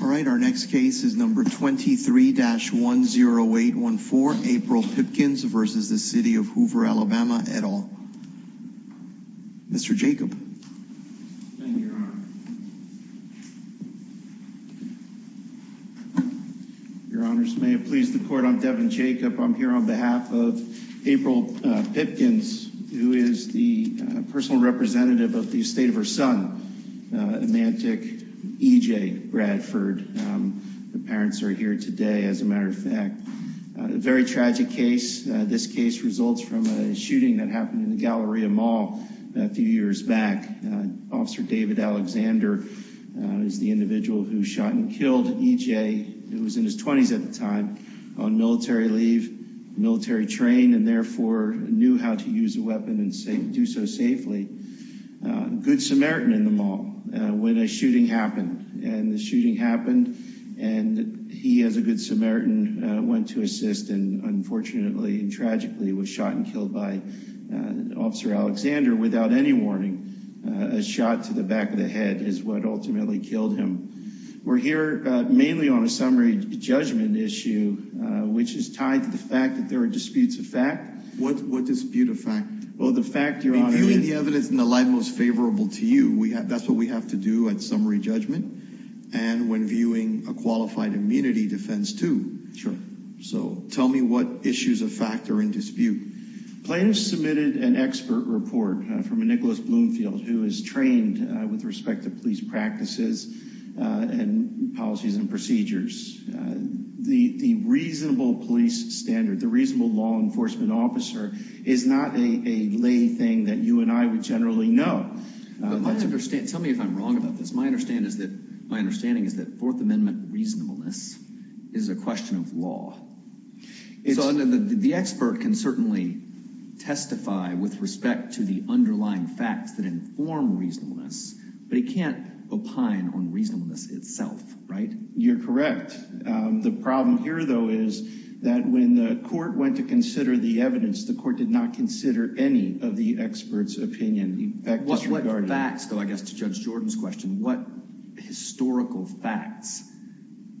All right, our next case is number 23-10814, April Pipkins v. City of Hoover, Alabama, et al. Mr. Jacob. Thank you, Your Honor. Your Honors, may it please the Court, I'm Devin Jacob. I'm here on behalf of April Pipkins, who is the personal representative of the estate of her son, Emantic E.J. Bradford. The parents are here today, as a matter of fact. A very tragic case. This case results from a shooting that happened in the Galleria Mall a few years back. Officer David Alexander is the individual who shot and killed E.J., who was in his 20s at the time, on military leave, military train, and therefore knew how to use a weapon and do so safely. Good Samaritan in the mall, when a shooting happened. And the shooting happened, and he, as a good Samaritan, went to assist and unfortunately and tragically was shot and killed by Officer Alexander without any warning. A shot to the back of the head is what ultimately killed him. We're here mainly on a summary judgment issue, which is tied to the fact that there are disputes of fact. What dispute of fact? Reviewing the evidence in the light most favorable to you, that's what we have to do at summary judgment, and when viewing a qualified immunity defense, too. So tell me what issues of fact are in dispute. Plaintiffs submitted an expert report from a Nicholas Bloomfield, who is trained with respect to police practices and policies and procedures. The reasonable police standard, the reasonable law enforcement officer, is not a lay thing that you and I would generally know. Tell me if I'm wrong about this. My understanding is that Fourth Amendment reasonableness is a question of law. The expert can certainly testify with respect to the underlying facts that inform reasonableness, but he can't opine on reasonableness itself, right? You're correct. The problem here, though, is that when the court went to consider the evidence, the court did not consider any of the experts' opinion. What facts, though, I guess to Judge Jordan's question, what historical facts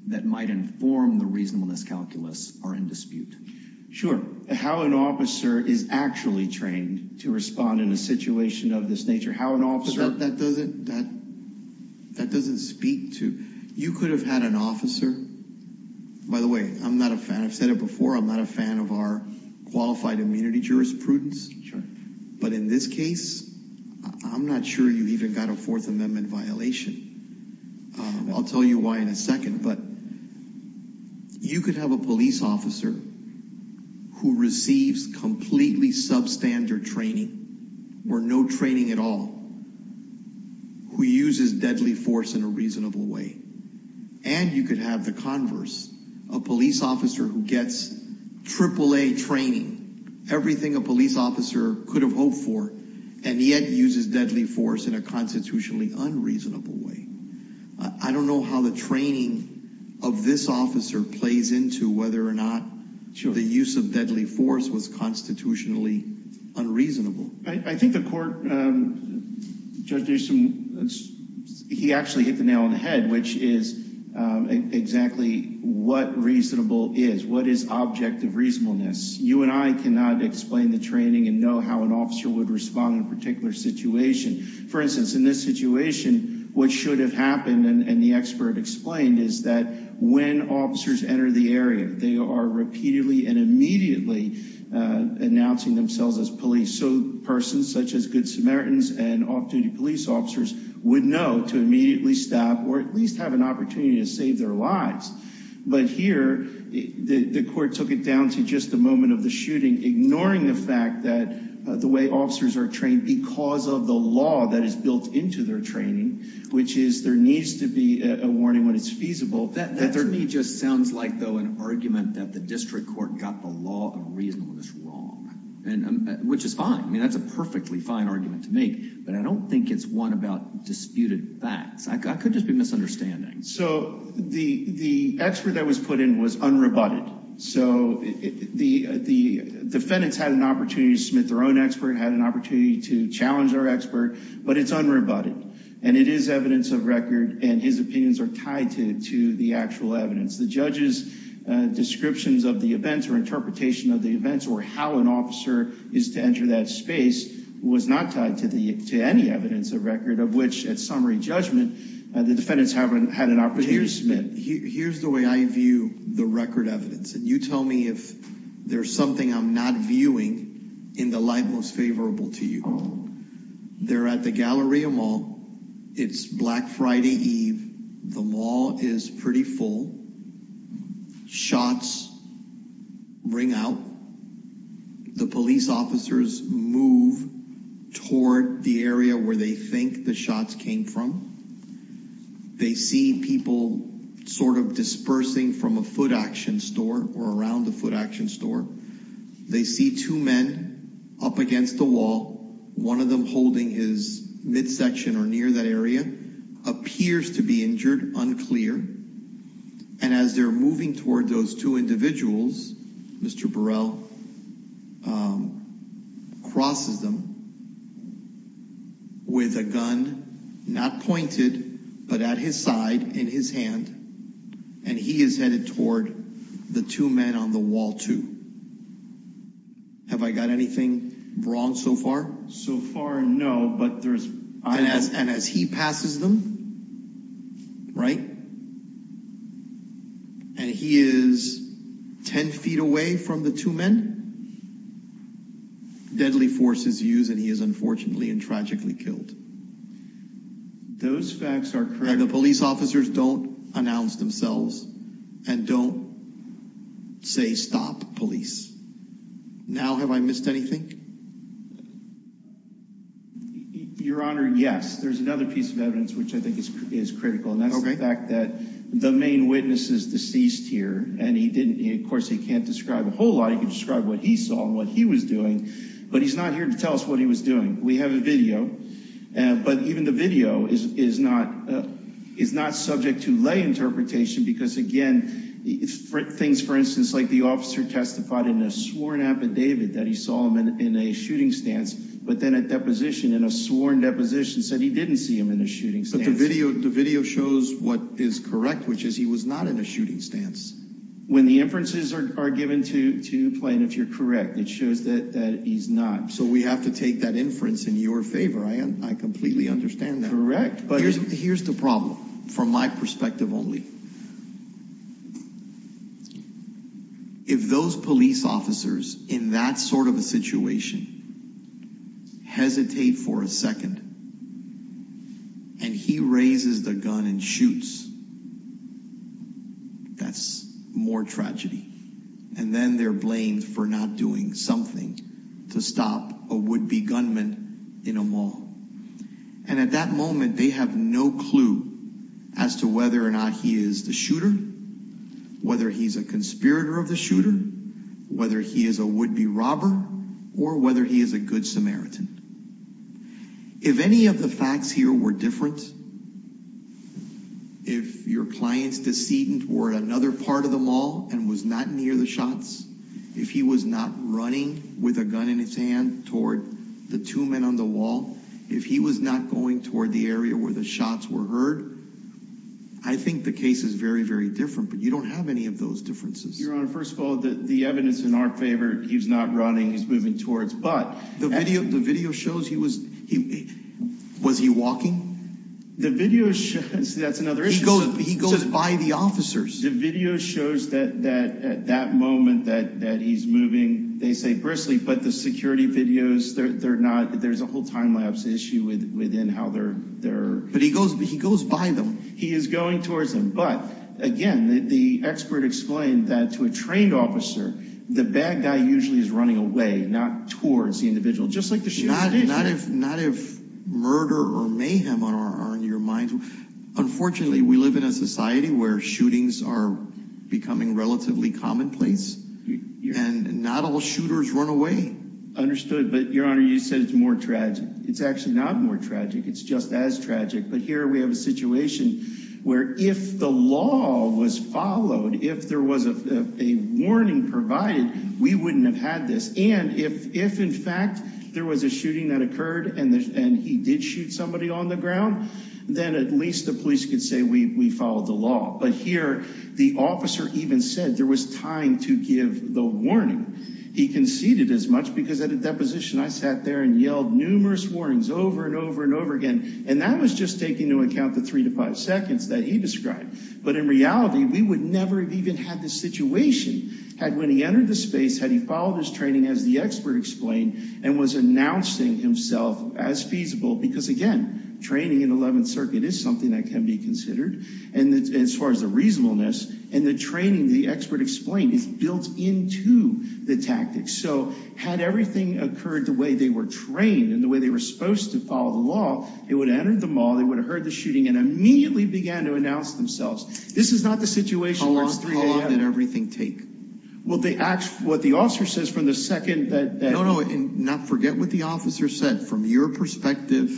that might inform the reasonableness calculus are in dispute? Sure. How an officer is actually trained to respond in a situation of this nature. How an officer. That doesn't speak to. You could have had an officer. By the way, I'm not a fan. I've said it before. I'm not a fan of our qualified immunity jurisprudence. But in this case, I'm not sure you even got a Fourth Amendment violation. I'll tell you why in a second. You could have a police officer who receives completely substandard training or no training at all, who uses deadly force in a reasonable way. And you could have the converse, a police officer who gets AAA training, everything a police officer could have hoped for, and yet uses deadly force in a constitutionally unreasonable way. I don't know how the training of this officer plays into whether or not the use of deadly force was constitutionally unreasonable. I think the court, Judge Dixon, he actually hit the nail on the head, which is exactly what reasonable is. What is objective reasonableness? You and I cannot explain the training and know how an officer would respond in a particular situation. For instance, in this situation, what should have happened, and the expert explained, is that when officers enter the area, they are repeatedly and immediately announcing themselves as police. So persons such as good Samaritans and off-duty police officers would know to immediately stop or at least have an opportunity to save their lives. But here, the court took it down to just the moment of the shooting, ignoring the fact that the way officers are trained because of the law that is built into their training, which is there needs to be a warning when it's feasible. That to me just sounds like, though, an argument that the district court got the law of reasonableness wrong, which is fine. I mean, that's a perfectly fine argument to make, but I don't think it's one about disputed facts. I could just be misunderstanding. So the expert that was put in was unrebutted. So the defendants had an opportunity to submit their own expert, had an opportunity to challenge their expert, but it's unrebutted. And it is evidence of record, and his opinions are tied to the actual evidence. The judge's descriptions of the events or interpretation of the events or how an officer is to enter that space was not tied to any evidence of record, of which, at summary judgment, the defendants haven't had an opportunity to submit. Here's the way I view the record evidence, and you tell me if there's something I'm not viewing in the light most favorable to you. They're at the Galleria Mall. It's Black Friday Eve. The mall is pretty full. Shots ring out. The police officers move toward the area where they think the shots came from. They see people sort of dispersing from a foot action store or around the foot action store. They see two men up against the wall, one of them holding his midsection or near that area, appears to be injured, unclear. And as they're moving toward those two individuals, Mr. Burrell crosses them with a gun, not pointed, but at his side in his hand, and he is headed toward the two men on the wall, too. Have I got anything wrong so far? So far, no, but there's... And as he passes them, right, and he is 10 feet away from the two men, deadly force is used, and he is unfortunately and tragically killed. Those facts are correct. And the police officers don't announce themselves and don't say, stop police. Now have I missed anything? Your Honor, yes. There's another piece of evidence which I think is critical, and that's the fact that the main witness is deceased here, and he didn't... Of course, he can't describe a whole lot. He can describe what he saw and what he was doing, but he's not here to tell us what he was doing. We have a video, but even the video is not subject to lay interpretation because, again, things, for instance, like the officer testified in a sworn affidavit that he saw him in a shooting stance, but then a deposition, in a sworn deposition, said he didn't see him in a shooting stance. But the video shows what is correct, which is he was not in a shooting stance. When the inferences are given to plaintiffs, you're correct. It shows that he's not. So we have to take that inference in your favor. I completely understand that. Here's the problem from my perspective only. If those police officers in that sort of a situation hesitate for a second and he raises the gun and shoots, that's more tragedy. And then they're blamed for not doing something to stop a would-be gunman in a mall. And at that moment, they have no clue as to whether or not he is the shooter, whether he's a conspirator of the shooter, whether he is a would-be robber, or whether he is a good Samaritan. If any of the facts here were different, if your client's decedent were at another part of the mall and was not near the shots, if he was not running with a gun in his hand toward the two men on the wall, if he was not going toward the area where the shots were heard, I think the case is very, very different. But you don't have any of those differences. Your Honor, first of all, the evidence in our favor, he's not running, he's moving towards. The video shows he was, was he walking? The video shows, that's another issue. He goes by the officers. The video shows that at that moment that he's moving. They say briskly, but the security videos, they're not, there's a whole time lapse issue within how they're. But he goes by them. He is going towards them. But, again, the expert explained that to a trained officer, the bad guy usually is running away, not towards the individual, just like the shooter did. Not if murder or mayhem are on your mind. Unfortunately, we live in a society where shootings are becoming relatively commonplace, and not all shooters run away. Understood. But, Your Honor, you said it's more tragic. It's actually not more tragic. It's just as tragic. But here we have a situation where if the law was followed, if there was a warning provided, we wouldn't have had this. And if, in fact, there was a shooting that occurred and he did shoot somebody on the ground, then at least the police could say we followed the law. But here the officer even said there was time to give the warning. He conceded as much because at the deposition I sat there and yelled numerous warnings over and over and over again. And that was just taking into account the three to five seconds that he described. But, in reality, we would never have even had this situation had, when he entered the space, had he followed his training, as the expert explained, and was announcing himself as feasible. Because, again, training in the 11th Circuit is something that can be considered as far as the reasonableness. And the training, the expert explained, is built into the tactics. So had everything occurred the way they were trained and the way they were supposed to follow the law, they would have entered the mall, they would have heard the shooting, and immediately began to announce themselves. This is not the situation where it's 3 a.m. How long did everything take? Well, what the officer says from the second that… No, no. Forget what the officer said. From your perspective,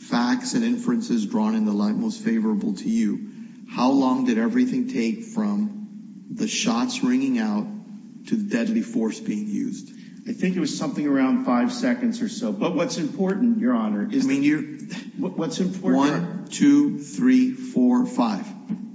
facts and inferences drawn in the light most favorable to you, how long did everything take from the shots ringing out to the deadly force being used? I think it was something around five seconds or so. But what's important, Your Honor… I mean, you… What's important… One, two, three, four, five.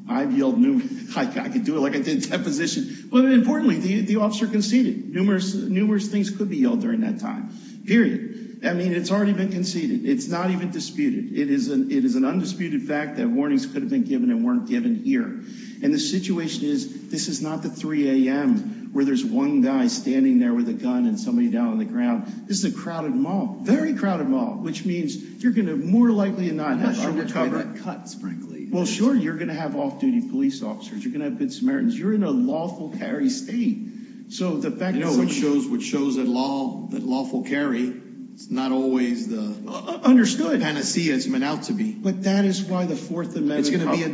I've yelled numerous… I could do it like I did at deposition. But, importantly, the officer conceded. Numerous things could be yelled during that time. Period. I mean, it's already been conceded. It's not even disputed. It is an undisputed fact that warnings could have been given and weren't given here. And the situation is, this is not the 3 a.m. where there's one guy standing there with a gun and somebody down on the ground. This is a crowded mall, very crowded mall, which means you're going to more likely not have… I'm not sure which way that cuts, frankly. Well, sure, you're going to have off-duty police officers. You're going to have good Samaritans. You're in a lawful carry state. I know, which shows that lawful carry is not always the panacea it's meant out to be. But that is why the Fourth Amendment…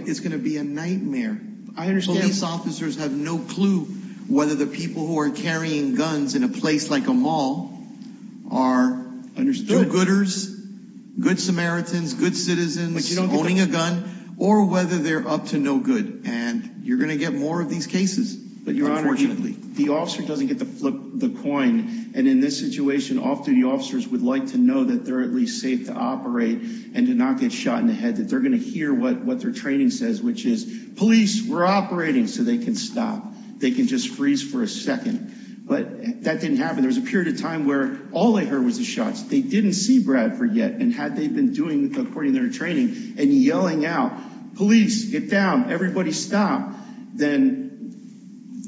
It's going to be a nightmare. Police officers have no clue whether the people who are carrying guns in a place like a mall are gooders, good Samaritans, good citizens, owning a gun, or whether they're up to no good. And you're going to get more of these cases, unfortunately. The officer doesn't get to flip the coin. And in this situation, off-duty officers would like to know that they're at least safe to operate and do not get shot in the head, that they're going to hear what their training says, which is, police, we're operating, so they can stop. They can just freeze for a second. But that didn't happen. There was a period of time where all they heard was the shots. They didn't see Bradford yet. And had they been doing according to their training and yelling out, police, get down, everybody stop, then…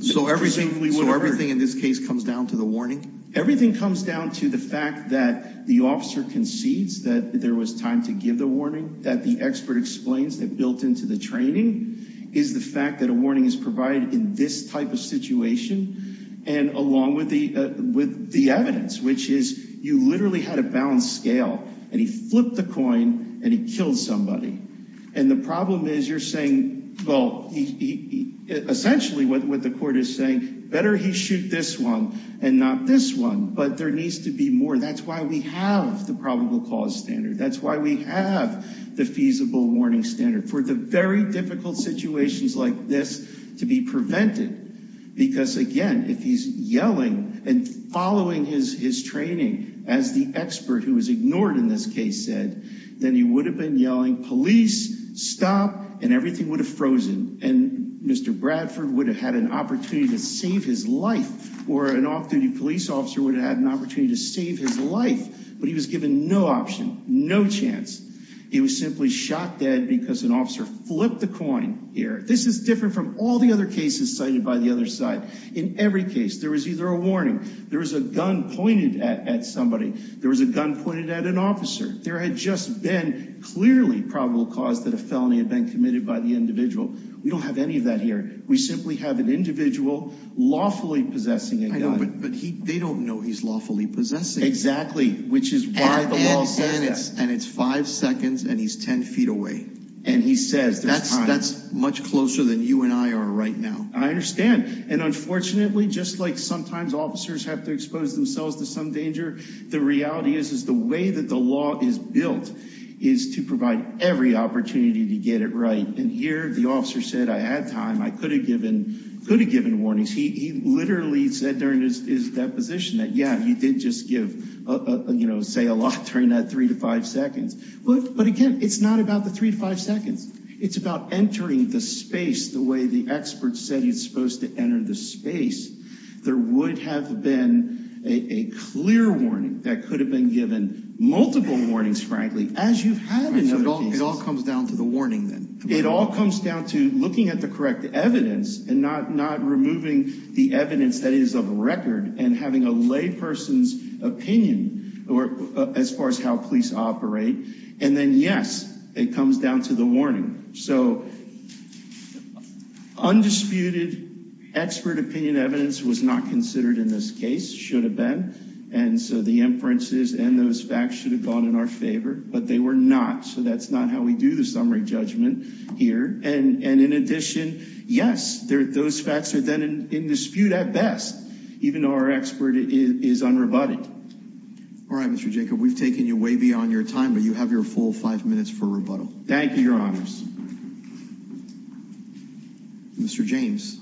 So everything in this case comes down to the warning? Everything comes down to the fact that the officer concedes that there was time to give the warning, that the expert explains that built into the training is the fact that a warning is provided in this type of situation, and along with the evidence, which is, you literally had a balanced scale, and he flipped the coin, and he killed somebody. And the problem is, you're saying, well, essentially what the court is saying, better he shoot this one and not this one, but there needs to be more. That's why we have the probable cause standard. That's why we have the feasible warning standard for the very difficult situations like this to be prevented. Because, again, if he's yelling and following his training as the expert who was ignored in this case said, then he would have been yelling, police, stop, and everything would have frozen. And Mr. Bradford would have had an opportunity to save his life, or an off-duty police officer would have had an opportunity to save his life. But he was given no option, no chance. He was simply shot dead because an officer flipped the coin here. This is different from all the other cases cited by the other side. In every case, there was either a warning, there was a gun pointed at somebody, there was a gun pointed at an officer. There had just been clearly probable cause that a felony had been committed by the individual. We don't have any of that here. We simply have an individual lawfully possessing a gun. I know, but they don't know he's lawfully possessing it. Exactly, which is why the law says that. And it's five seconds, and he's ten feet away. And he says there's time. That's much closer than you and I are right now. I understand. And unfortunately, just like sometimes officers have to expose themselves to some danger, the reality is the way that the law is built is to provide every opportunity to get it right. And here, the officer said, I had time. I could have given warnings. He literally said during his deposition that, yeah, he did just give, you know, say a lot during that three to five seconds. But again, it's not about the three to five seconds. It's about entering the space the way the expert said he was supposed to enter the space. There would have been a clear warning that could have been given multiple warnings, frankly, as you've had in other cases. So it all comes down to the warning then. It all comes down to looking at the correct evidence and not removing the evidence that is of record and having a layperson's opinion as far as how police operate. And then, yes, it comes down to the warning. So undisputed expert opinion evidence was not considered in this case, should have been. And so the inferences and those facts should have gone in our favor. But they were not. So that's not how we do the summary judgment here. And in addition, yes, those facts are then in dispute at best, even though our expert is unrebutted. All right, Mr. Jacob, we've taken you way beyond your time, but you have your full five minutes for rebuttal. Thank you, Your Honors. Mr. James.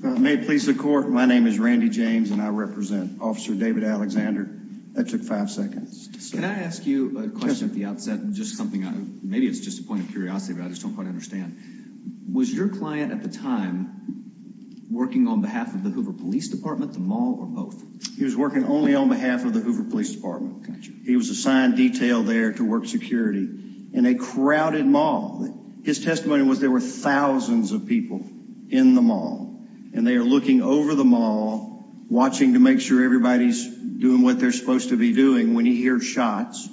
May it please the court. My name is Randy James and I represent Officer David Alexander. That took five seconds. Can I ask you a question at the outset? Just something maybe it's just a point of curiosity, but I just don't quite understand. Was your client at the time working on behalf of the Hoover Police Department, the mall or both? He was working only on behalf of the Hoover Police Department. He was assigned detail there to work security in a crowded mall. His testimony was there were thousands of people in the mall and they are looking over the mall, watching to make sure everybody's doing what they're supposed to be doing. When he hears shots,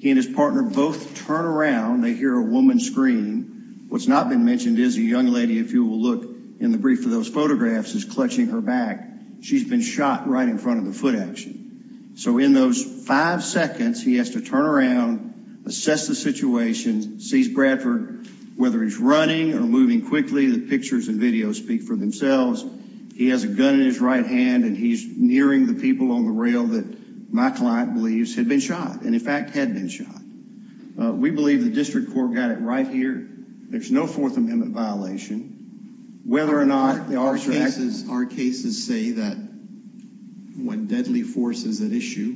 he and his partner both turn around. They hear a woman scream. What's not been mentioned is a young lady, if you will look in the brief of those photographs, is clutching her back. She's been shot right in front of the foot action. So in those five seconds, he has to turn around, assess the situation, sees Bradford, whether he's running or moving quickly. The pictures and videos speak for themselves. He has a gun in his right hand and he's nearing the people on the rail that my client believes had been shot and, in fact, had been shot. We believe the district court got it right here. There's no Fourth Amendment violation. Whether or not there are. Our cases say that when deadly force is at issue.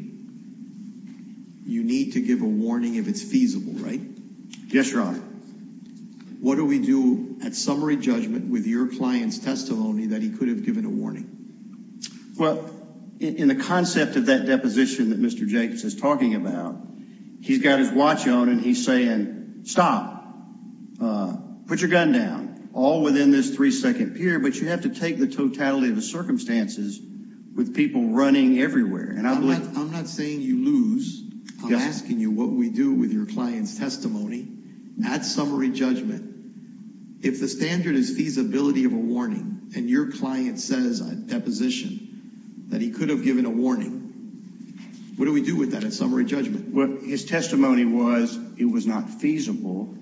You need to give a warning if it's feasible, right? Yes, your honor. What do we do at summary judgment with your client's testimony that he could have given a warning? Well, in the concept of that deposition that Mr. Jacobs is talking about, he's got his watch on and he's saying, stop. Put your gun down all within this three second period. But you have to take the totality of the circumstances with people running everywhere. And I'm not saying you lose. I'm asking you what we do with your client's testimony at summary judgment. If the standard is feasibility of a warning and your client says a deposition that he could have given a warning. What do we do with that at summary judgment? His testimony was it was not feasible.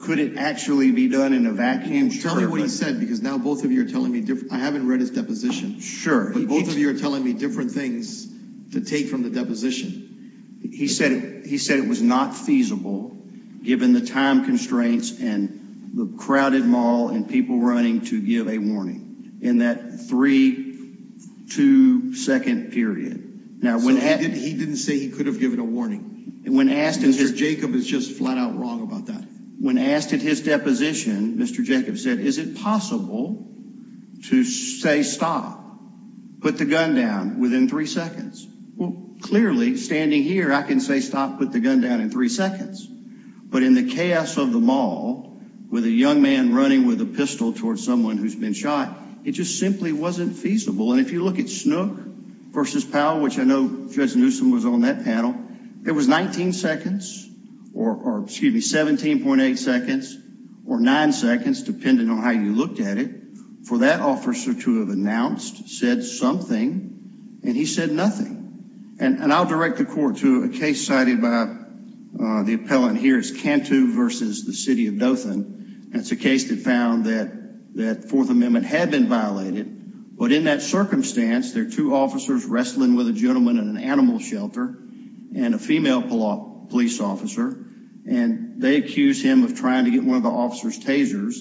Could it actually be done in a vacuum? Tell me what he said, because now both of you are telling me. I haven't read his deposition. Sure. But both of you are telling me different things to take from the deposition. He said he said it was not feasible. Given the time constraints and the crowded mall and people running to give a warning in that three to second period. Now, when he didn't say he could have given a warning. Jacob is just flat out wrong about that. When asked at his deposition, Mr. Jacob said, is it possible to say stop, put the gun down within three seconds? Well, clearly, standing here, I can say stop, put the gun down in three seconds. But in the chaos of the mall with a young man running with a pistol towards someone who's been shot, it just simply wasn't feasible. And if you look at Snook versus Powell, which I know Judge Newsom was on that panel, it was 19 seconds or excuse me, 17.8 seconds or nine seconds, depending on how you looked at it for that officer to have announced said something. And he said nothing. And I'll direct the court to a case cited by the appellant. Here is Cantu versus the city of Dothan. And it's a case that found that that Fourth Amendment had been violated. But in that circumstance, there are two officers wrestling with a gentleman in an animal shelter and a female police officer. And they accuse him of trying to get one of the officers tasers.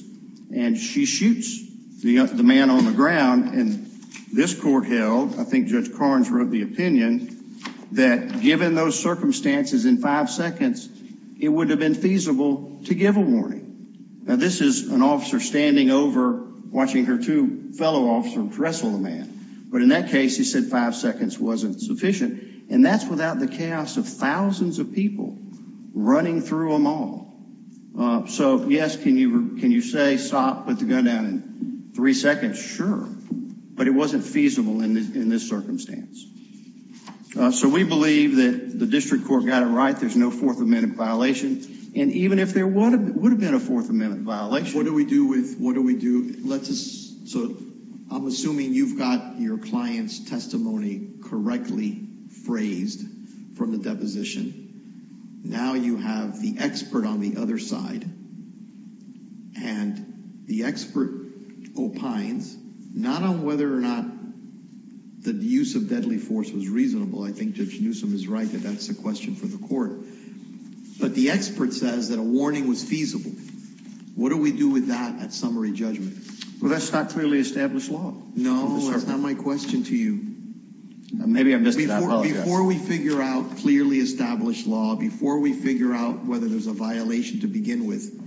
And she shoots the man on the ground. And this court held, I think Judge Carnes wrote the opinion, that given those circumstances in five seconds, it would have been feasible to give a warning. Now, this is an officer standing over watching her two fellow officers wrestle the man. But in that case, he said five seconds wasn't sufficient. And that's without the chaos of thousands of people running through a mall. So, yes, can you can you say stop, put the gun down in three seconds? Yes, sure. But it wasn't feasible in this circumstance. So we believe that the district court got it right. There's no Fourth Amendment violation. And even if there would have been a Fourth Amendment violation. What do we do with what do we do? Let us. So I'm assuming you've got your client's testimony correctly phrased from the deposition. Now you have the expert on the other side. And the expert opines not on whether or not the use of deadly force was reasonable. I think Judge Newsom is right that that's a question for the court. But the expert says that a warning was feasible. What do we do with that at summary judgment? Well, that's not clearly established law. No, that's not my question to you. Maybe I'm just before we figure out clearly established law, before we figure out whether there's a violation to begin with.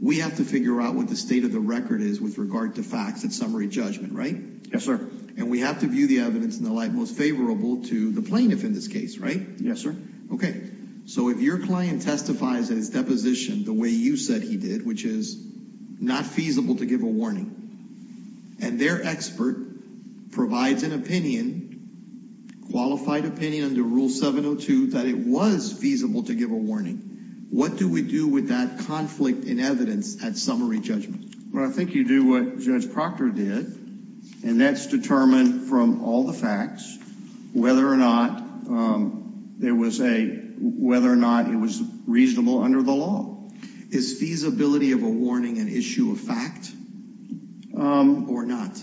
We have to figure out what the state of the record is with regard to facts and summary judgment. Right. Yes, sir. And we have to view the evidence in the light most favorable to the plaintiff in this case. Right. Yes, sir. OK, so if your client testifies in his deposition the way you said he did, which is not feasible to give a warning. And their expert provides an opinion, qualified opinion under Rule 702, that it was feasible to give a warning. What do we do with that conflict in evidence at summary judgment? Well, I think you do what Judge Proctor did. And that's determined from all the facts whether or not there was a whether or not it was reasonable under the law. Is feasibility of a warning an issue of fact or not?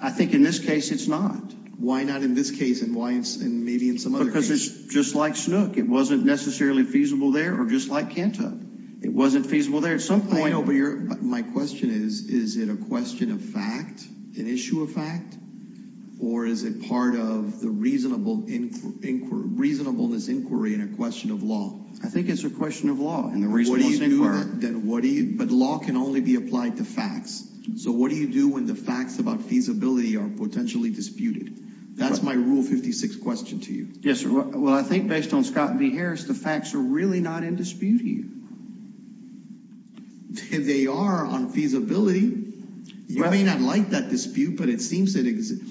I think in this case it's not. Why not in this case and why it's maybe in some other case? Because it's just like Snook. It wasn't necessarily feasible there or just like Cantuck. It wasn't feasible there at some point. My question is, is it a question of fact, an issue of fact, or is it part of the reasonableness inquiry and a question of law? I think it's a question of law and the reasonableness inquiry. But law can only be applied to facts. So what do you do when the facts about feasibility are potentially disputed? That's my Rule 56 question to you. Yes, sir. Well, I think based on Scott v. Harris, the facts are really not in dispute here. They are on feasibility. You may not like that dispute, but it seems it exists.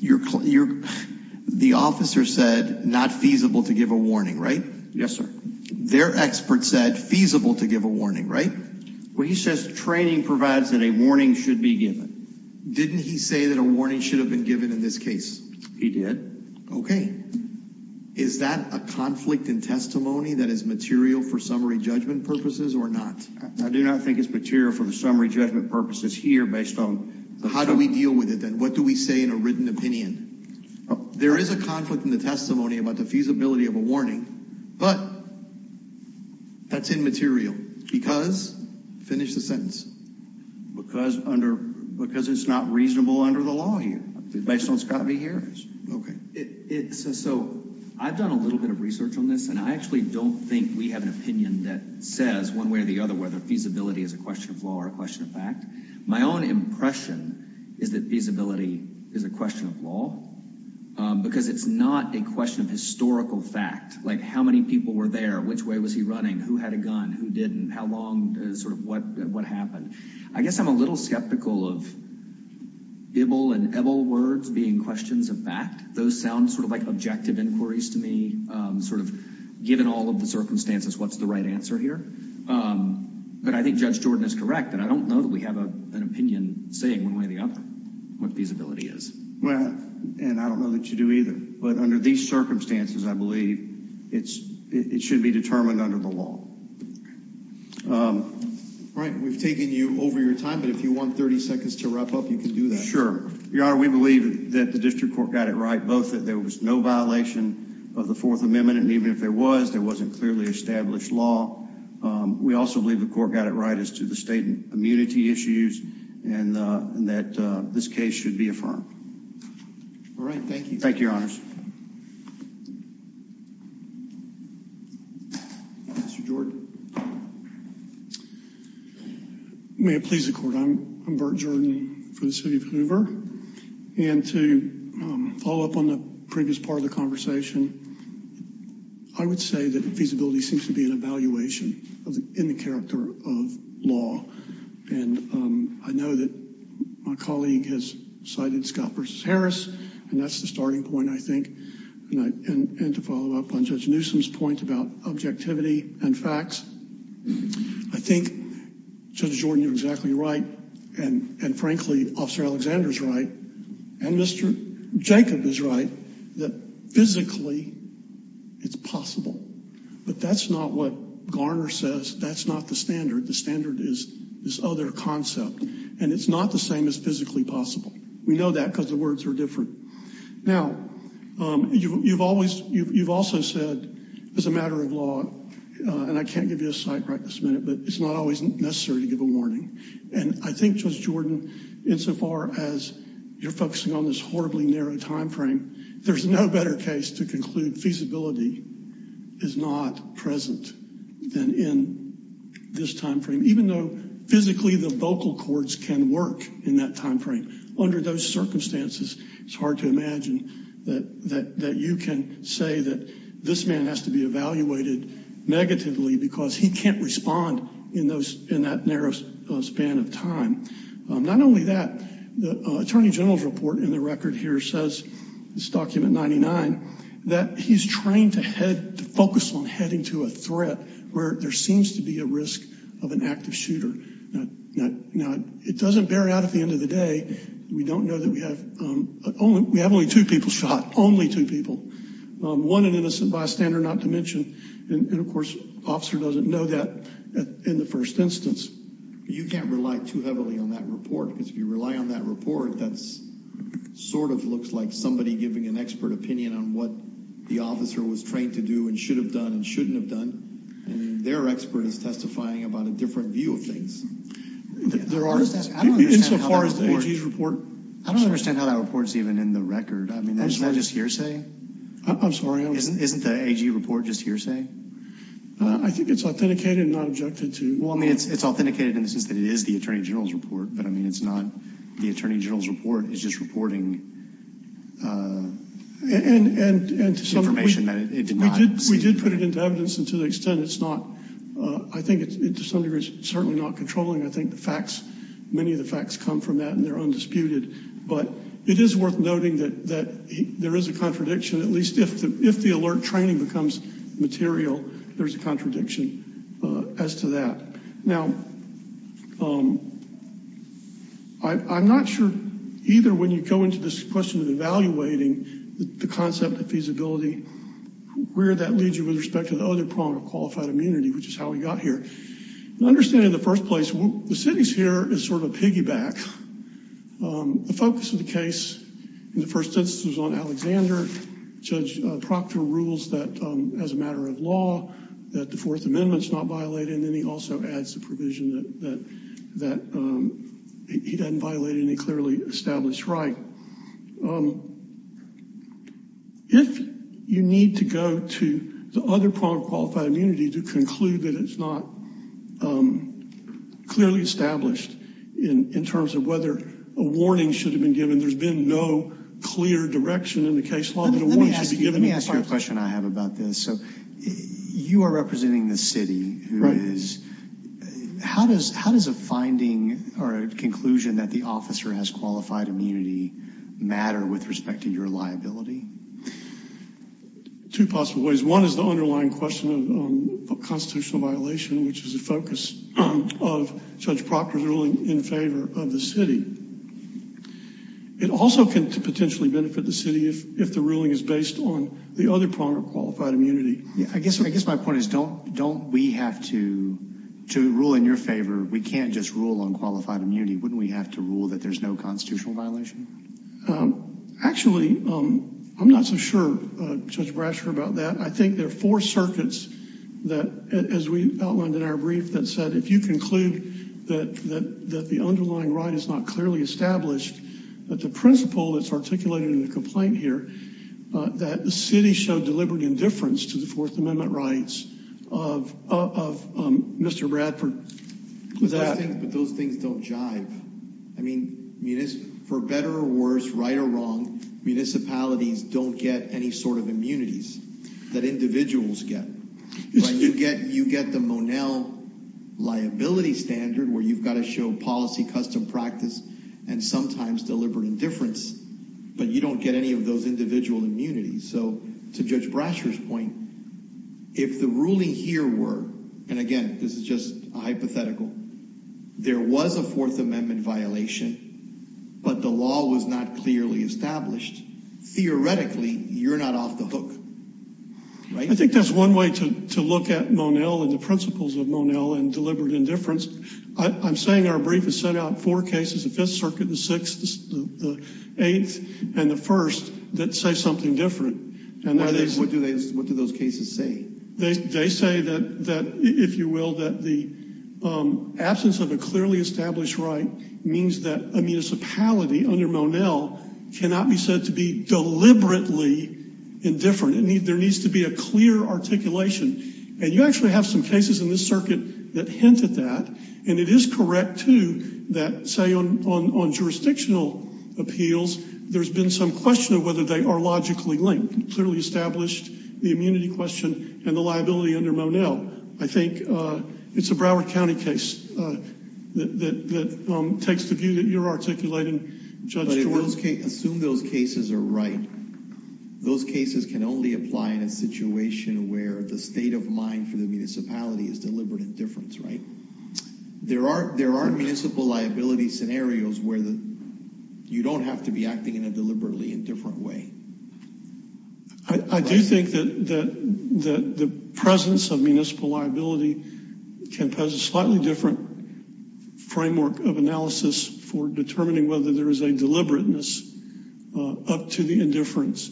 The officer said not feasible to give a warning, right? Yes, sir. Their expert said feasible to give a warning, right? Well, he says training provides that a warning should be given. Didn't he say that a warning should have been given in this case? He did. Okay. Is that a conflict in testimony that is material for summary judgment purposes or not? I do not think it's material for the summary judgment purposes here based on— How do we deal with it then? What do we say in a written opinion? There is a conflict in the testimony about the feasibility of a warning, but that's immaterial because—finish the sentence. Because it's not reasonable under the law here based on Scott v. Harris. Okay. So I've done a little bit of research on this, and I actually don't think we have an opinion that says one way or the other whether feasibility is a question of law or a question of fact. My own impression is that feasibility is a question of law because it's not a question of historical fact, like how many people were there, which way was he running, who had a gun, who didn't, how long, sort of what happened. I guess I'm a little skeptical of Bibel and Ebel words being questions of fact. Those sound sort of like objective inquiries to me, sort of given all of the circumstances, what's the right answer here? But I think Judge Jordan is correct that I don't know that we have an opinion saying one way or the other what feasibility is. Well, and I don't know that you do either. But under these circumstances, I believe it should be determined under the law. All right. We've taken you over your time, but if you want 30 seconds to wrap up, you can do that. Your Honor, we believe that the district court got it right, both that there was no violation of the Fourth Amendment, and even if there was, there wasn't clearly established law. We also believe the court got it right as to the state immunity issues and that this case should be affirmed. All right. Thank you. Thank you, Your Honors. Mr. Jordan. May it please the Court. I'm Bert Jordan for the city of Hoover. And to follow up on the previous part of the conversation, I would say that feasibility seems to be an evaluation in the character of law. And I know that my colleague has cited Scott v. Harris, and that's the starting point, I think. And to follow up on Judge Newsom's point about objectivity and facts, I think Judge Jordan, you're exactly right. And frankly, Officer Alexander's right. And Mr. Jacob is right that physically it's possible. But that's not what Garner says. That's not the standard. The standard is this other concept. And it's not the same as physically possible. We know that because the words are different. Now, you've also said, as a matter of law, and I can't give you a site right this minute, but it's not always necessary to give a warning. And I think, Judge Jordan, insofar as you're focusing on this horribly narrow time frame, there's no better case to conclude feasibility is not present than in this time frame. Even though physically the vocal cords can work in that time frame, under those circumstances, it's hard to imagine that you can say that this man has to be evaluated negatively because he can't respond in that narrow span of time. Not only that, the Attorney General's report in the record here says, this document 99, that he's trained to focus on heading to a threat where there seems to be a risk of an active shooter. Now, it doesn't bear out at the end of the day. We don't know that we have only two people shot, only two people, one an innocent bystander not to mention. And of course, the officer doesn't know that in the first instance. You can't rely too heavily on that report because if you rely on that report, that sort of looks like somebody giving an expert opinion on what the officer was trained to do and should have done and shouldn't have done. And their expert is testifying about a different view of things. There are, insofar as the AG's report. I don't understand how that report is even in the record. I mean, isn't that just hearsay? I'm sorry. Isn't the AG report just hearsay? I think it's authenticated and not objected to. Well, I mean, it's authenticated in the sense that it is the Attorney General's report. But, I mean, it's not the Attorney General's report. It's just reporting information that it did not see. We did put it into evidence. And to the extent it's not, I think, to some degree, it's certainly not controlling. I think the facts, many of the facts come from that. And they're undisputed. But it is worth noting that there is a contradiction. At least if the alert training becomes material, there's a contradiction as to that. Now, I'm not sure either when you go into this question of evaluating the concept of feasibility, where that leads you with respect to the other prong of qualified immunity, which is how we got here. My understanding in the first place, the cities here is sort of a piggyback. The focus of the case in the first instance was on Alexander. Judge Proctor rules that as a matter of law, that the Fourth Amendment is not violated. And then he also adds the provision that he doesn't violate any clearly established right. But if you need to go to the other prong of qualified immunity to conclude that it's not clearly established in terms of whether a warning should have been given, there's been no clear direction in the case law that a warning should be given. Let me ask you a question I have about this. You are representing the city. How does a finding or a conclusion that the officer has qualified immunity matter with respect to your liability? Two possible ways. One is the underlying question of constitutional violation, which is the focus of Judge Proctor's ruling in favor of the city. It also can potentially benefit the city if the ruling is based on the other prong of qualified immunity. I guess my point is, don't we have to rule in your favor? We can't just rule on qualified immunity. Wouldn't we have to rule that there's no constitutional violation? Actually, I'm not so sure, Judge Brasher, about that. I think there are four circuits that, as we outlined in our brief, that said if you conclude that the underlying right is not clearly established, that the principle that's articulated in the complaint here, that the city showed deliberate indifference to the Fourth Amendment rights of Mr. Bradford. But those things don't jive. I mean, for better or worse, right or wrong, municipalities don't get any sort of immunities that individuals get. You get the Monell liability standard where you've got to show policy, custom practice, and sometimes deliberate indifference. But you don't get any of those individual immunities. So to Judge Brasher's point, if the ruling here were, and again, this is just a hypothetical, there was a Fourth Amendment violation, but the law was not clearly established, theoretically, you're not off the hook, right? I think that's one way to look at Monell and the principles of Monell and deliberate indifference. I'm saying our brief has sent out four cases, the Fifth Circuit, the Sixth, the Eighth, and the First, that say something different. What do those cases say? They say that, if you will, that the absence of a clearly established right means that a municipality under Monell cannot be said to be deliberately indifferent. There needs to be a clear articulation. And you actually have some cases in this circuit that hint at that. And it is correct, too, that, say, on jurisdictional appeals, there's been some question of whether they are logically linked. They have clearly established the immunity question and the liability under Monell. I think it's a Broward County case that takes the view that you're articulating, Judge Jordan. But assume those cases are right. Those cases can only apply in a situation where the state of mind for the municipality is deliberate indifference, right? There are municipal liability scenarios where you don't have to be acting in a deliberately indifferent way. I do think that the presence of municipal liability can pose a slightly different framework of analysis for determining whether there is a deliberateness up to the indifference.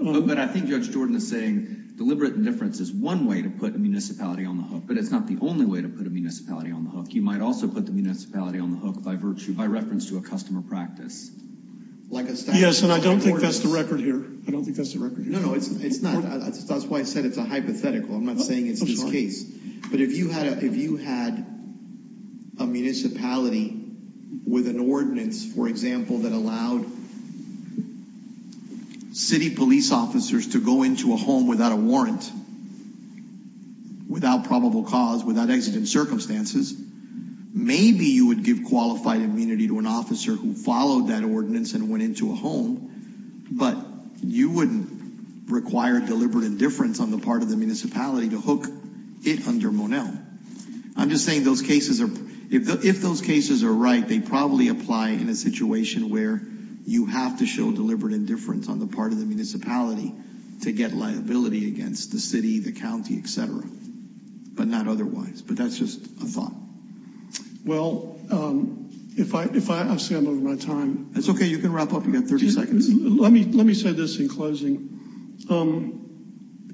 But I think Judge Jordan is saying deliberate indifference is one way to put a municipality on the hook. But it's not the only way to put a municipality on the hook. You might also put the municipality on the hook by virtue, by reference to a customer practice. Yes, and I don't think that's the record here. I don't think that's the record. No, no, it's not. That's why I said it's a hypothetical. I'm not saying it's this case. But if you had a municipality with an ordinance, for example, that allowed city police officers to go into a home without a warrant, without probable cause, without exigent circumstances, maybe you would give qualified immunity to an officer who followed that ordinance and went into a home, but you wouldn't require deliberate indifference on the part of the municipality to hook it under Monell. I'm just saying if those cases are right, they probably apply in a situation where you have to show deliberate indifference on the part of the municipality to get liability against the city, the county, et cetera, but not otherwise. But that's just a thought. Well, if I say I'm over my time. That's okay. You can wrap up. You have 30 seconds. Let me say this in closing.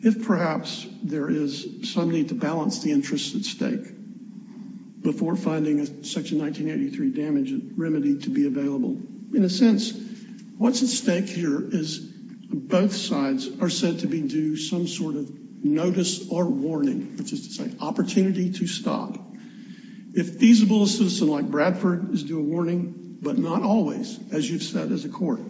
If perhaps there is some need to balance the interests at stake before finding a Section 1983 damage remedy to be available, in a sense, what's at stake here is both sides are said to be due some sort of notice or warning, which is to say opportunity to stop. If feasible, a citizen like Bradford is due a warning, but not always, as you've said as a court.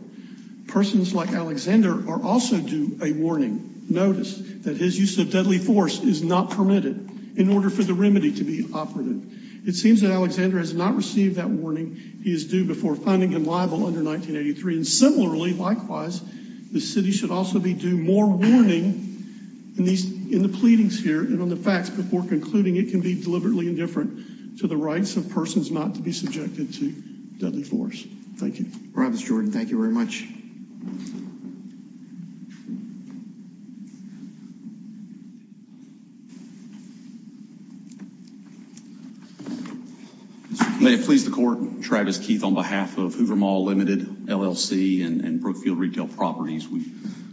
Persons like Alexander are also due a warning notice that his use of deadly force is not permitted in order for the remedy to be operative. It seems that Alexander has not received that warning. He is due before finding him liable under 1983. And similarly, likewise, the city should also be due more warning in the pleadings here and on the facts before concluding it can be deliberately indifferent to the rights of persons not to be subjected to deadly force. Thank you. All right, Mr. Jordan. Thank you very much. May it please the court. Travis Keith on behalf of Hoover Mall Limited, LLC, and Brookfield Retail Properties. We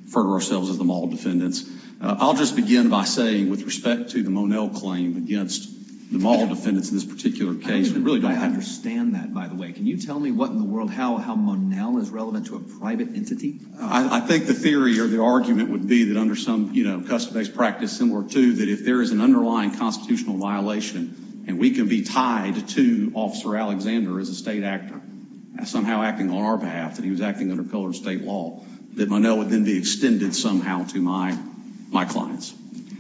refer to ourselves as the mall defendants. I'll just begin by saying with respect to the Monell claim against the mall defendants in this particular case, we really don't have. I understand that, by the way. Can you tell me what in the world, how Monell is relevant to a private entity? I think the theory or the argument would be that under some, you know, custom-based practice similar to that, if there is an underlying constitutional violation and we can be tied to Officer Alexander as a state actor, somehow acting on our behalf, that he was acting under pillar of state law, that Monell would then be extended somehow to my clients.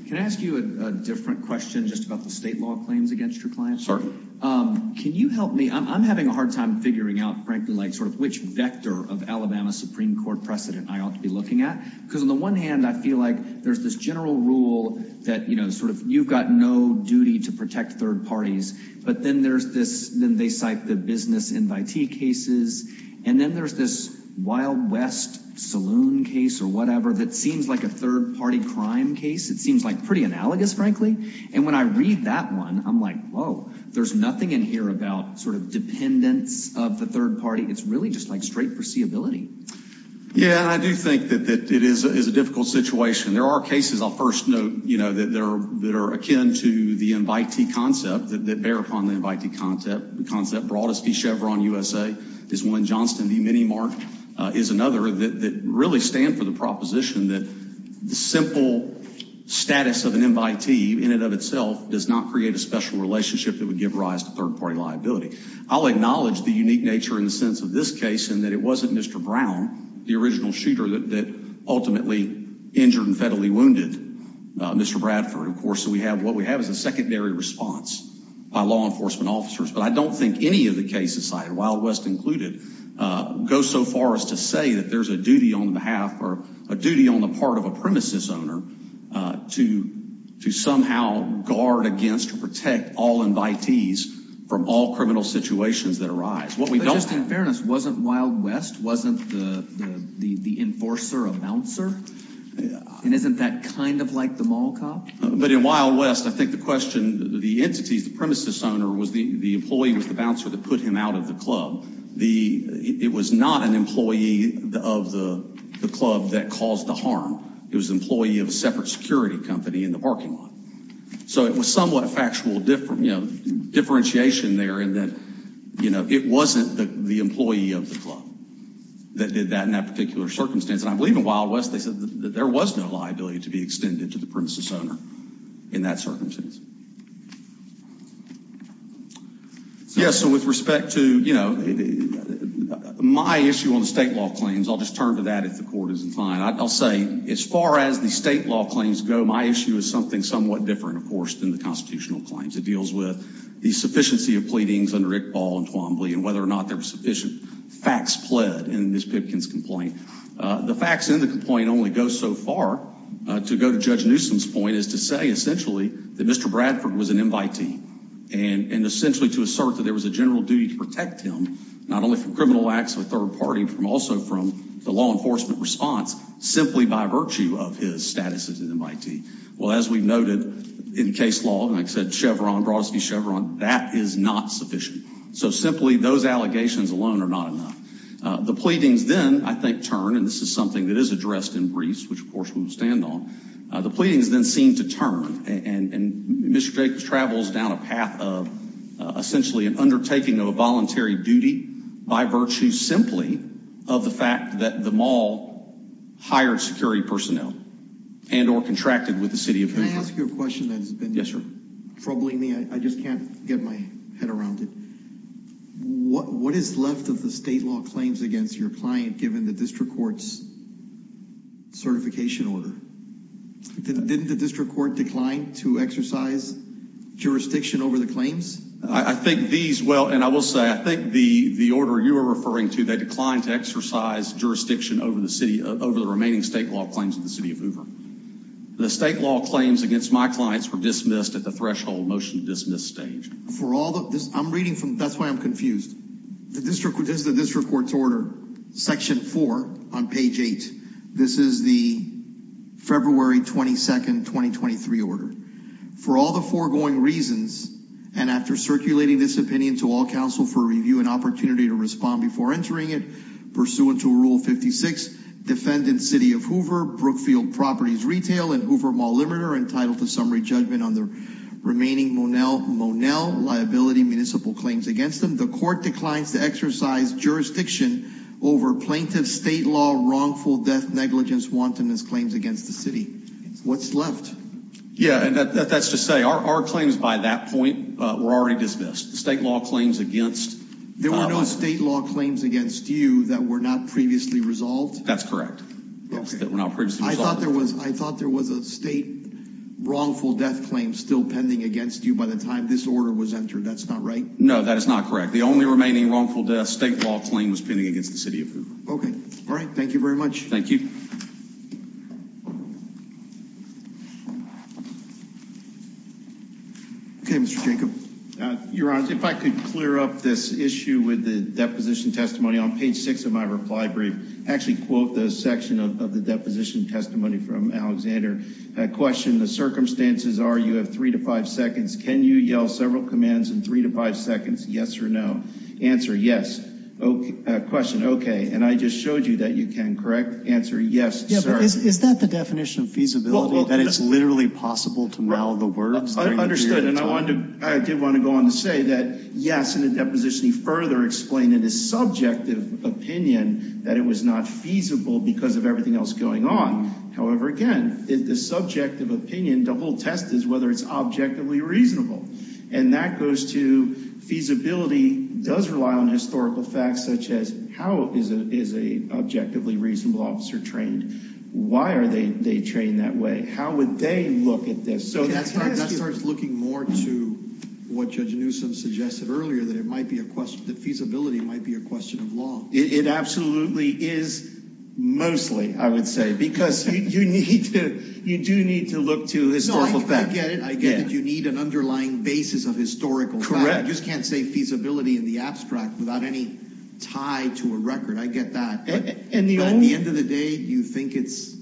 Can I ask you a different question just about the state law claims against your clients? Certainly. Can you help me? I'm having a hard time figuring out, frankly, like sort of which vector of Alabama Supreme Court precedent I ought to be looking at. Because on the one hand, I feel like there's this general rule that, you know, sort of you've got no duty to protect third parties. But then there's this, then they cite the business invitee cases. And then there's this Wild West saloon case or whatever that seems like a third party crime case. It seems like pretty analogous, frankly. And when I read that one, I'm like, whoa, there's nothing in here about sort of dependence of the third party. It's really just like straight foreseeability. Yeah, I do think that it is a difficult situation. There are cases, I'll first note, you know, that are akin to the invitee concept, that bear upon the invitee concept. The concept brought us the Chevron USA. There's one Johnston v. Minimart is another that really stand for the proposition that the simple status of an invitee in and of itself does not create a special relationship that would give rise to third party liability. I'll acknowledge the unique nature in the sense of this case and that it wasn't Mr. Brown, the original shooter that ultimately injured and fatally wounded Mr. Bradford. Of course, we have what we have is a secondary response by law enforcement officers. But I don't think any of the cases cited, Wild West included, go so far as to say that there's a duty on the behalf or a duty on the part of a premises owner to somehow guard against or protect all invitees from all criminal situations that arise. But just in fairness, wasn't Wild West, wasn't the enforcer a bouncer? And isn't that kind of like the mall cop? But in Wild West, I think the question, the entities, the premises owner, the employee was the bouncer that put him out of the club. It was not an employee of the club that caused the harm. It was an employee of a separate security company in the parking lot. So it was somewhat factual differentiation there in that it wasn't the employee of the club that did that in that particular circumstance. And I believe in Wild West, they said that there was no liability to be extended to the premises owner in that circumstance. Yes, so with respect to, you know, my issue on the state law claims, I'll just turn to that if the court isn't fine. I'll say as far as the state law claims go, my issue is something somewhat different, of course, than the constitutional claims. It deals with the sufficiency of pleadings under Iqbal and Twombly and whether or not there were sufficient facts pled in Ms. Pipkin's complaint. The facts in the complaint only go so far. To go to Judge Newsom's point is to say essentially that Mr. Bradford was an invitee and essentially to assert that there was a general duty to protect him, not only from criminal acts of a third party, but also from the law enforcement response simply by virtue of his status as an invitee. Well, as we noted in case law, like I said, Chevron, Brodsky Chevron, that is not sufficient. So simply those allegations alone are not enough. The pleadings then, I think, turn and this is something that is addressed in briefs, which of course we will stand on. The pleadings then seem to turn and Mr. Jacobs travels down a path of essentially an undertaking of a voluntary duty by virtue simply of the fact that the mall hired security personnel and or contracted with the city of Hoover. Can I ask you a question that has been troubling me? I just can't get my head around it. What is left of the state law claims against your client given the district court's certification order? Didn't the district court decline to exercise jurisdiction over the claims? I think these well and I will say I think the the order you are referring to they declined to exercise jurisdiction over the city over the remaining state law claims in the city of Hoover. The state law claims against my clients were dismissed at the threshold motion to dismiss stage. For all the I'm reading from that's why I'm confused. The district is the district court's order section four on page eight. This is the February 22nd 2023 order for all the foregoing reasons. And after circulating this opinion to all counsel for review and opportunity to respond before entering it pursuant to rule 56 defendant city of Hoover Brookfield Properties retail and Hoover Mall Limited are entitled to summary judgment on the remaining Monell Monell liability municipal claims against them. The court declines to exercise jurisdiction over plaintiff state law wrongful death negligence wantonness claims against the city. What's left? Yeah. And that's to say our claims by that point were already dismissed. State law claims against there were no state law claims against you that were not previously resolved. That's correct. That were not previously. I thought there was I thought there was a state wrongful death claim still pending against you by the time this order was entered. That's not right. No, that is not correct. The only remaining wrongful death state law claim was pending against the city of Hoover. Okay. All right. Thank you very much. Thank you. Thank you. Thank you. Thank you. Okay, Mr Jacob, your honor. If I could clear up this issue with the deposition testimony on page six of my reply brief. Actually quote the section of the deposition testimony from Alexander question. The circumstances are you have three to five seconds. Can you yell several commands in three to five seconds? Yes or no answer. Yes. Okay. Question. And I just showed you that you can correct answer. Yes. Is that the definition of feasibility that it's literally possible to mouth the words? Understood. And I wanted to I did want to go on to say that, yes, in a deposition, he further explained in a subjective opinion that it was not feasible because of everything else going on. However, again, the subjective opinion to hold test is whether it's objectively reasonable. And that goes to feasibility does rely on historical facts, such as how is it is a objectively reasonable officer trained? Why are they trained that way? How would they look at this? So that starts looking more to what Judge Newsom suggested earlier that it might be a question that feasibility might be a question of law. It absolutely is. Mostly, I would say, because you need to you do need to look to this. I get it. I get it. You need an underlying basis of historical. Correct. Just can't say feasibility in the abstract without any tie to a record. I get that. And the end of the day, you think it's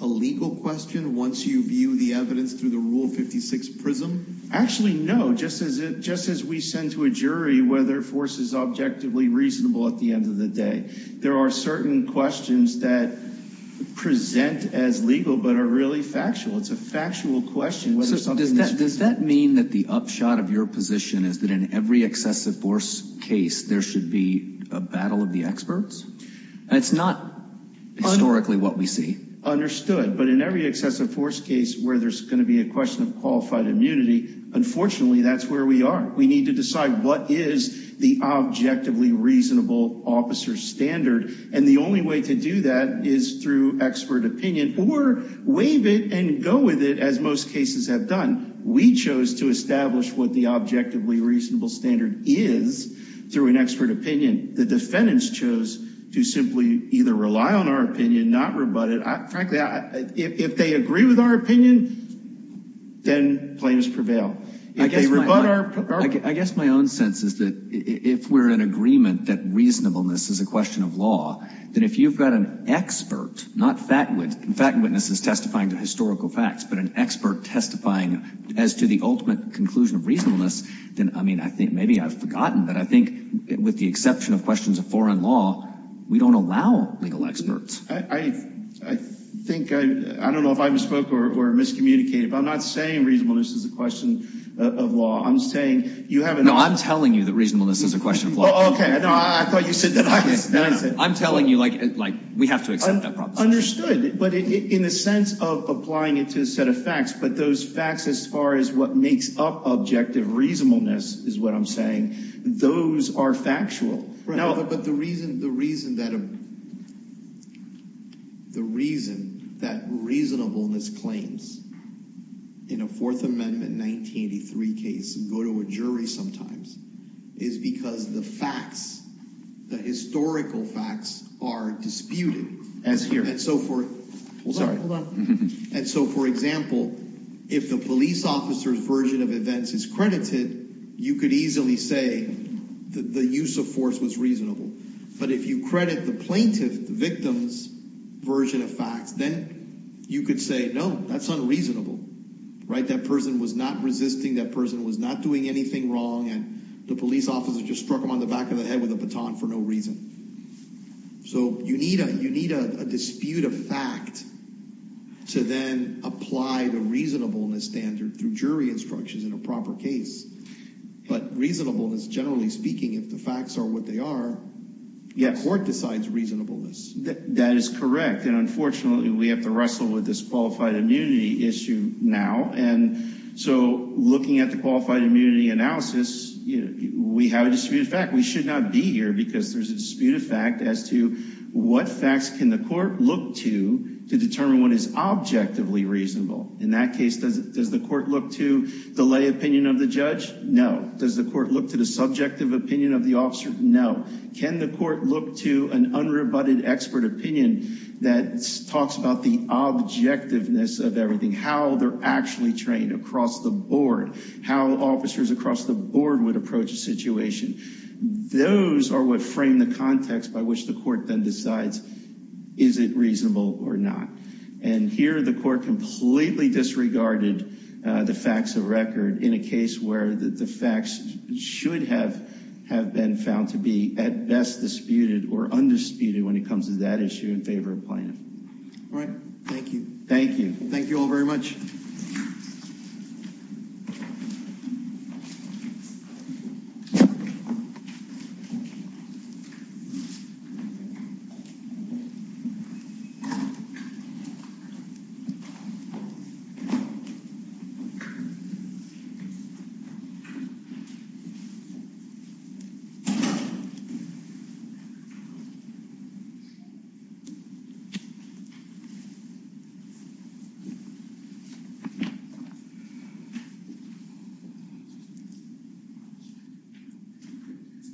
a legal question. Once you view the evidence through the rule 56 prism. Actually, no. Just as it just as we send to a jury whether force is objectively reasonable at the end of the day. There are certain questions that present as legal but are really factual. It's a factual question. Does that mean that the upshot of your position is that in every excessive force case, there should be a battle of the experts? It's not historically what we see. But in every excessive force case where there's going to be a question of qualified immunity, unfortunately, that's where we are. We need to decide what is the objectively reasonable officer standard. And the only way to do that is through expert opinion or waive it and go with it as most cases have done. We chose to establish what the objectively reasonable standard is through an expert opinion. The defendants chose to simply either rely on our opinion, not rebut it. Frankly, if they agree with our opinion, then plaintiffs prevail. I guess my own sense is that if we're in agreement that reasonableness is a question of law, then if you've got an expert, not fact witnesses testifying to historical facts, but an expert testifying as to the ultimate conclusion of reasonableness, then, I mean, I think maybe I've forgotten, but I think with the exception of questions of foreign law, we don't allow legal experts. I think, I don't know if I misspoke or miscommunicated, but I'm not saying reasonableness is a question of law. I'm saying you have an option. No, I'm telling you that reasonableness is a question of law. Okay, I thought you said that. I'm telling you, like, we have to accept that proposition. Understood, but in the sense of applying it to a set of facts, but those facts as far as what makes up objective reasonableness is what I'm saying, those are factual. No, but the reason that reasonableness claims in a Fourth Amendment 1983 case and go to a jury sometimes is because the facts, the historical facts are disputed. As here. Hold on, hold on. And so, for example, if the police officer's version of events is credited, you could easily say that the use of force was reasonable. But if you credit the plaintiff, the victim's version of facts, then you could say, no, that's unreasonable, right? That person was not resisting. That person was not doing anything wrong, and the police officer just struck him on the back of the head with a baton for no reason. So you need a dispute of fact to then apply the reasonableness standard through jury instructions in a proper case. But reasonableness, generally speaking, if the facts are what they are, yet court decides reasonableness. That is correct. And unfortunately, we have to wrestle with this qualified immunity issue now. And so looking at the qualified immunity analysis, we have a disputed fact. We should not be here because there's a disputed fact as to what facts can the court look to to determine what is objectively reasonable. In that case, does the court look to the lay opinion of the judge? No. Does the court look to the subjective opinion of the officer? No. Can the court look to an unrebutted expert opinion that talks about the objectiveness of everything, how they're actually trained across the board, how officers across the board would approach a situation? Those are what frame the context by which the court then decides, is it reasonable or not? And here the court completely disregarded the facts of record in a case where the facts should have been found to be at best disputed or undisputed when it comes to that issue in favor of plaintiff. All right. Thank you. Thank you. Thank you all very much. Thank you.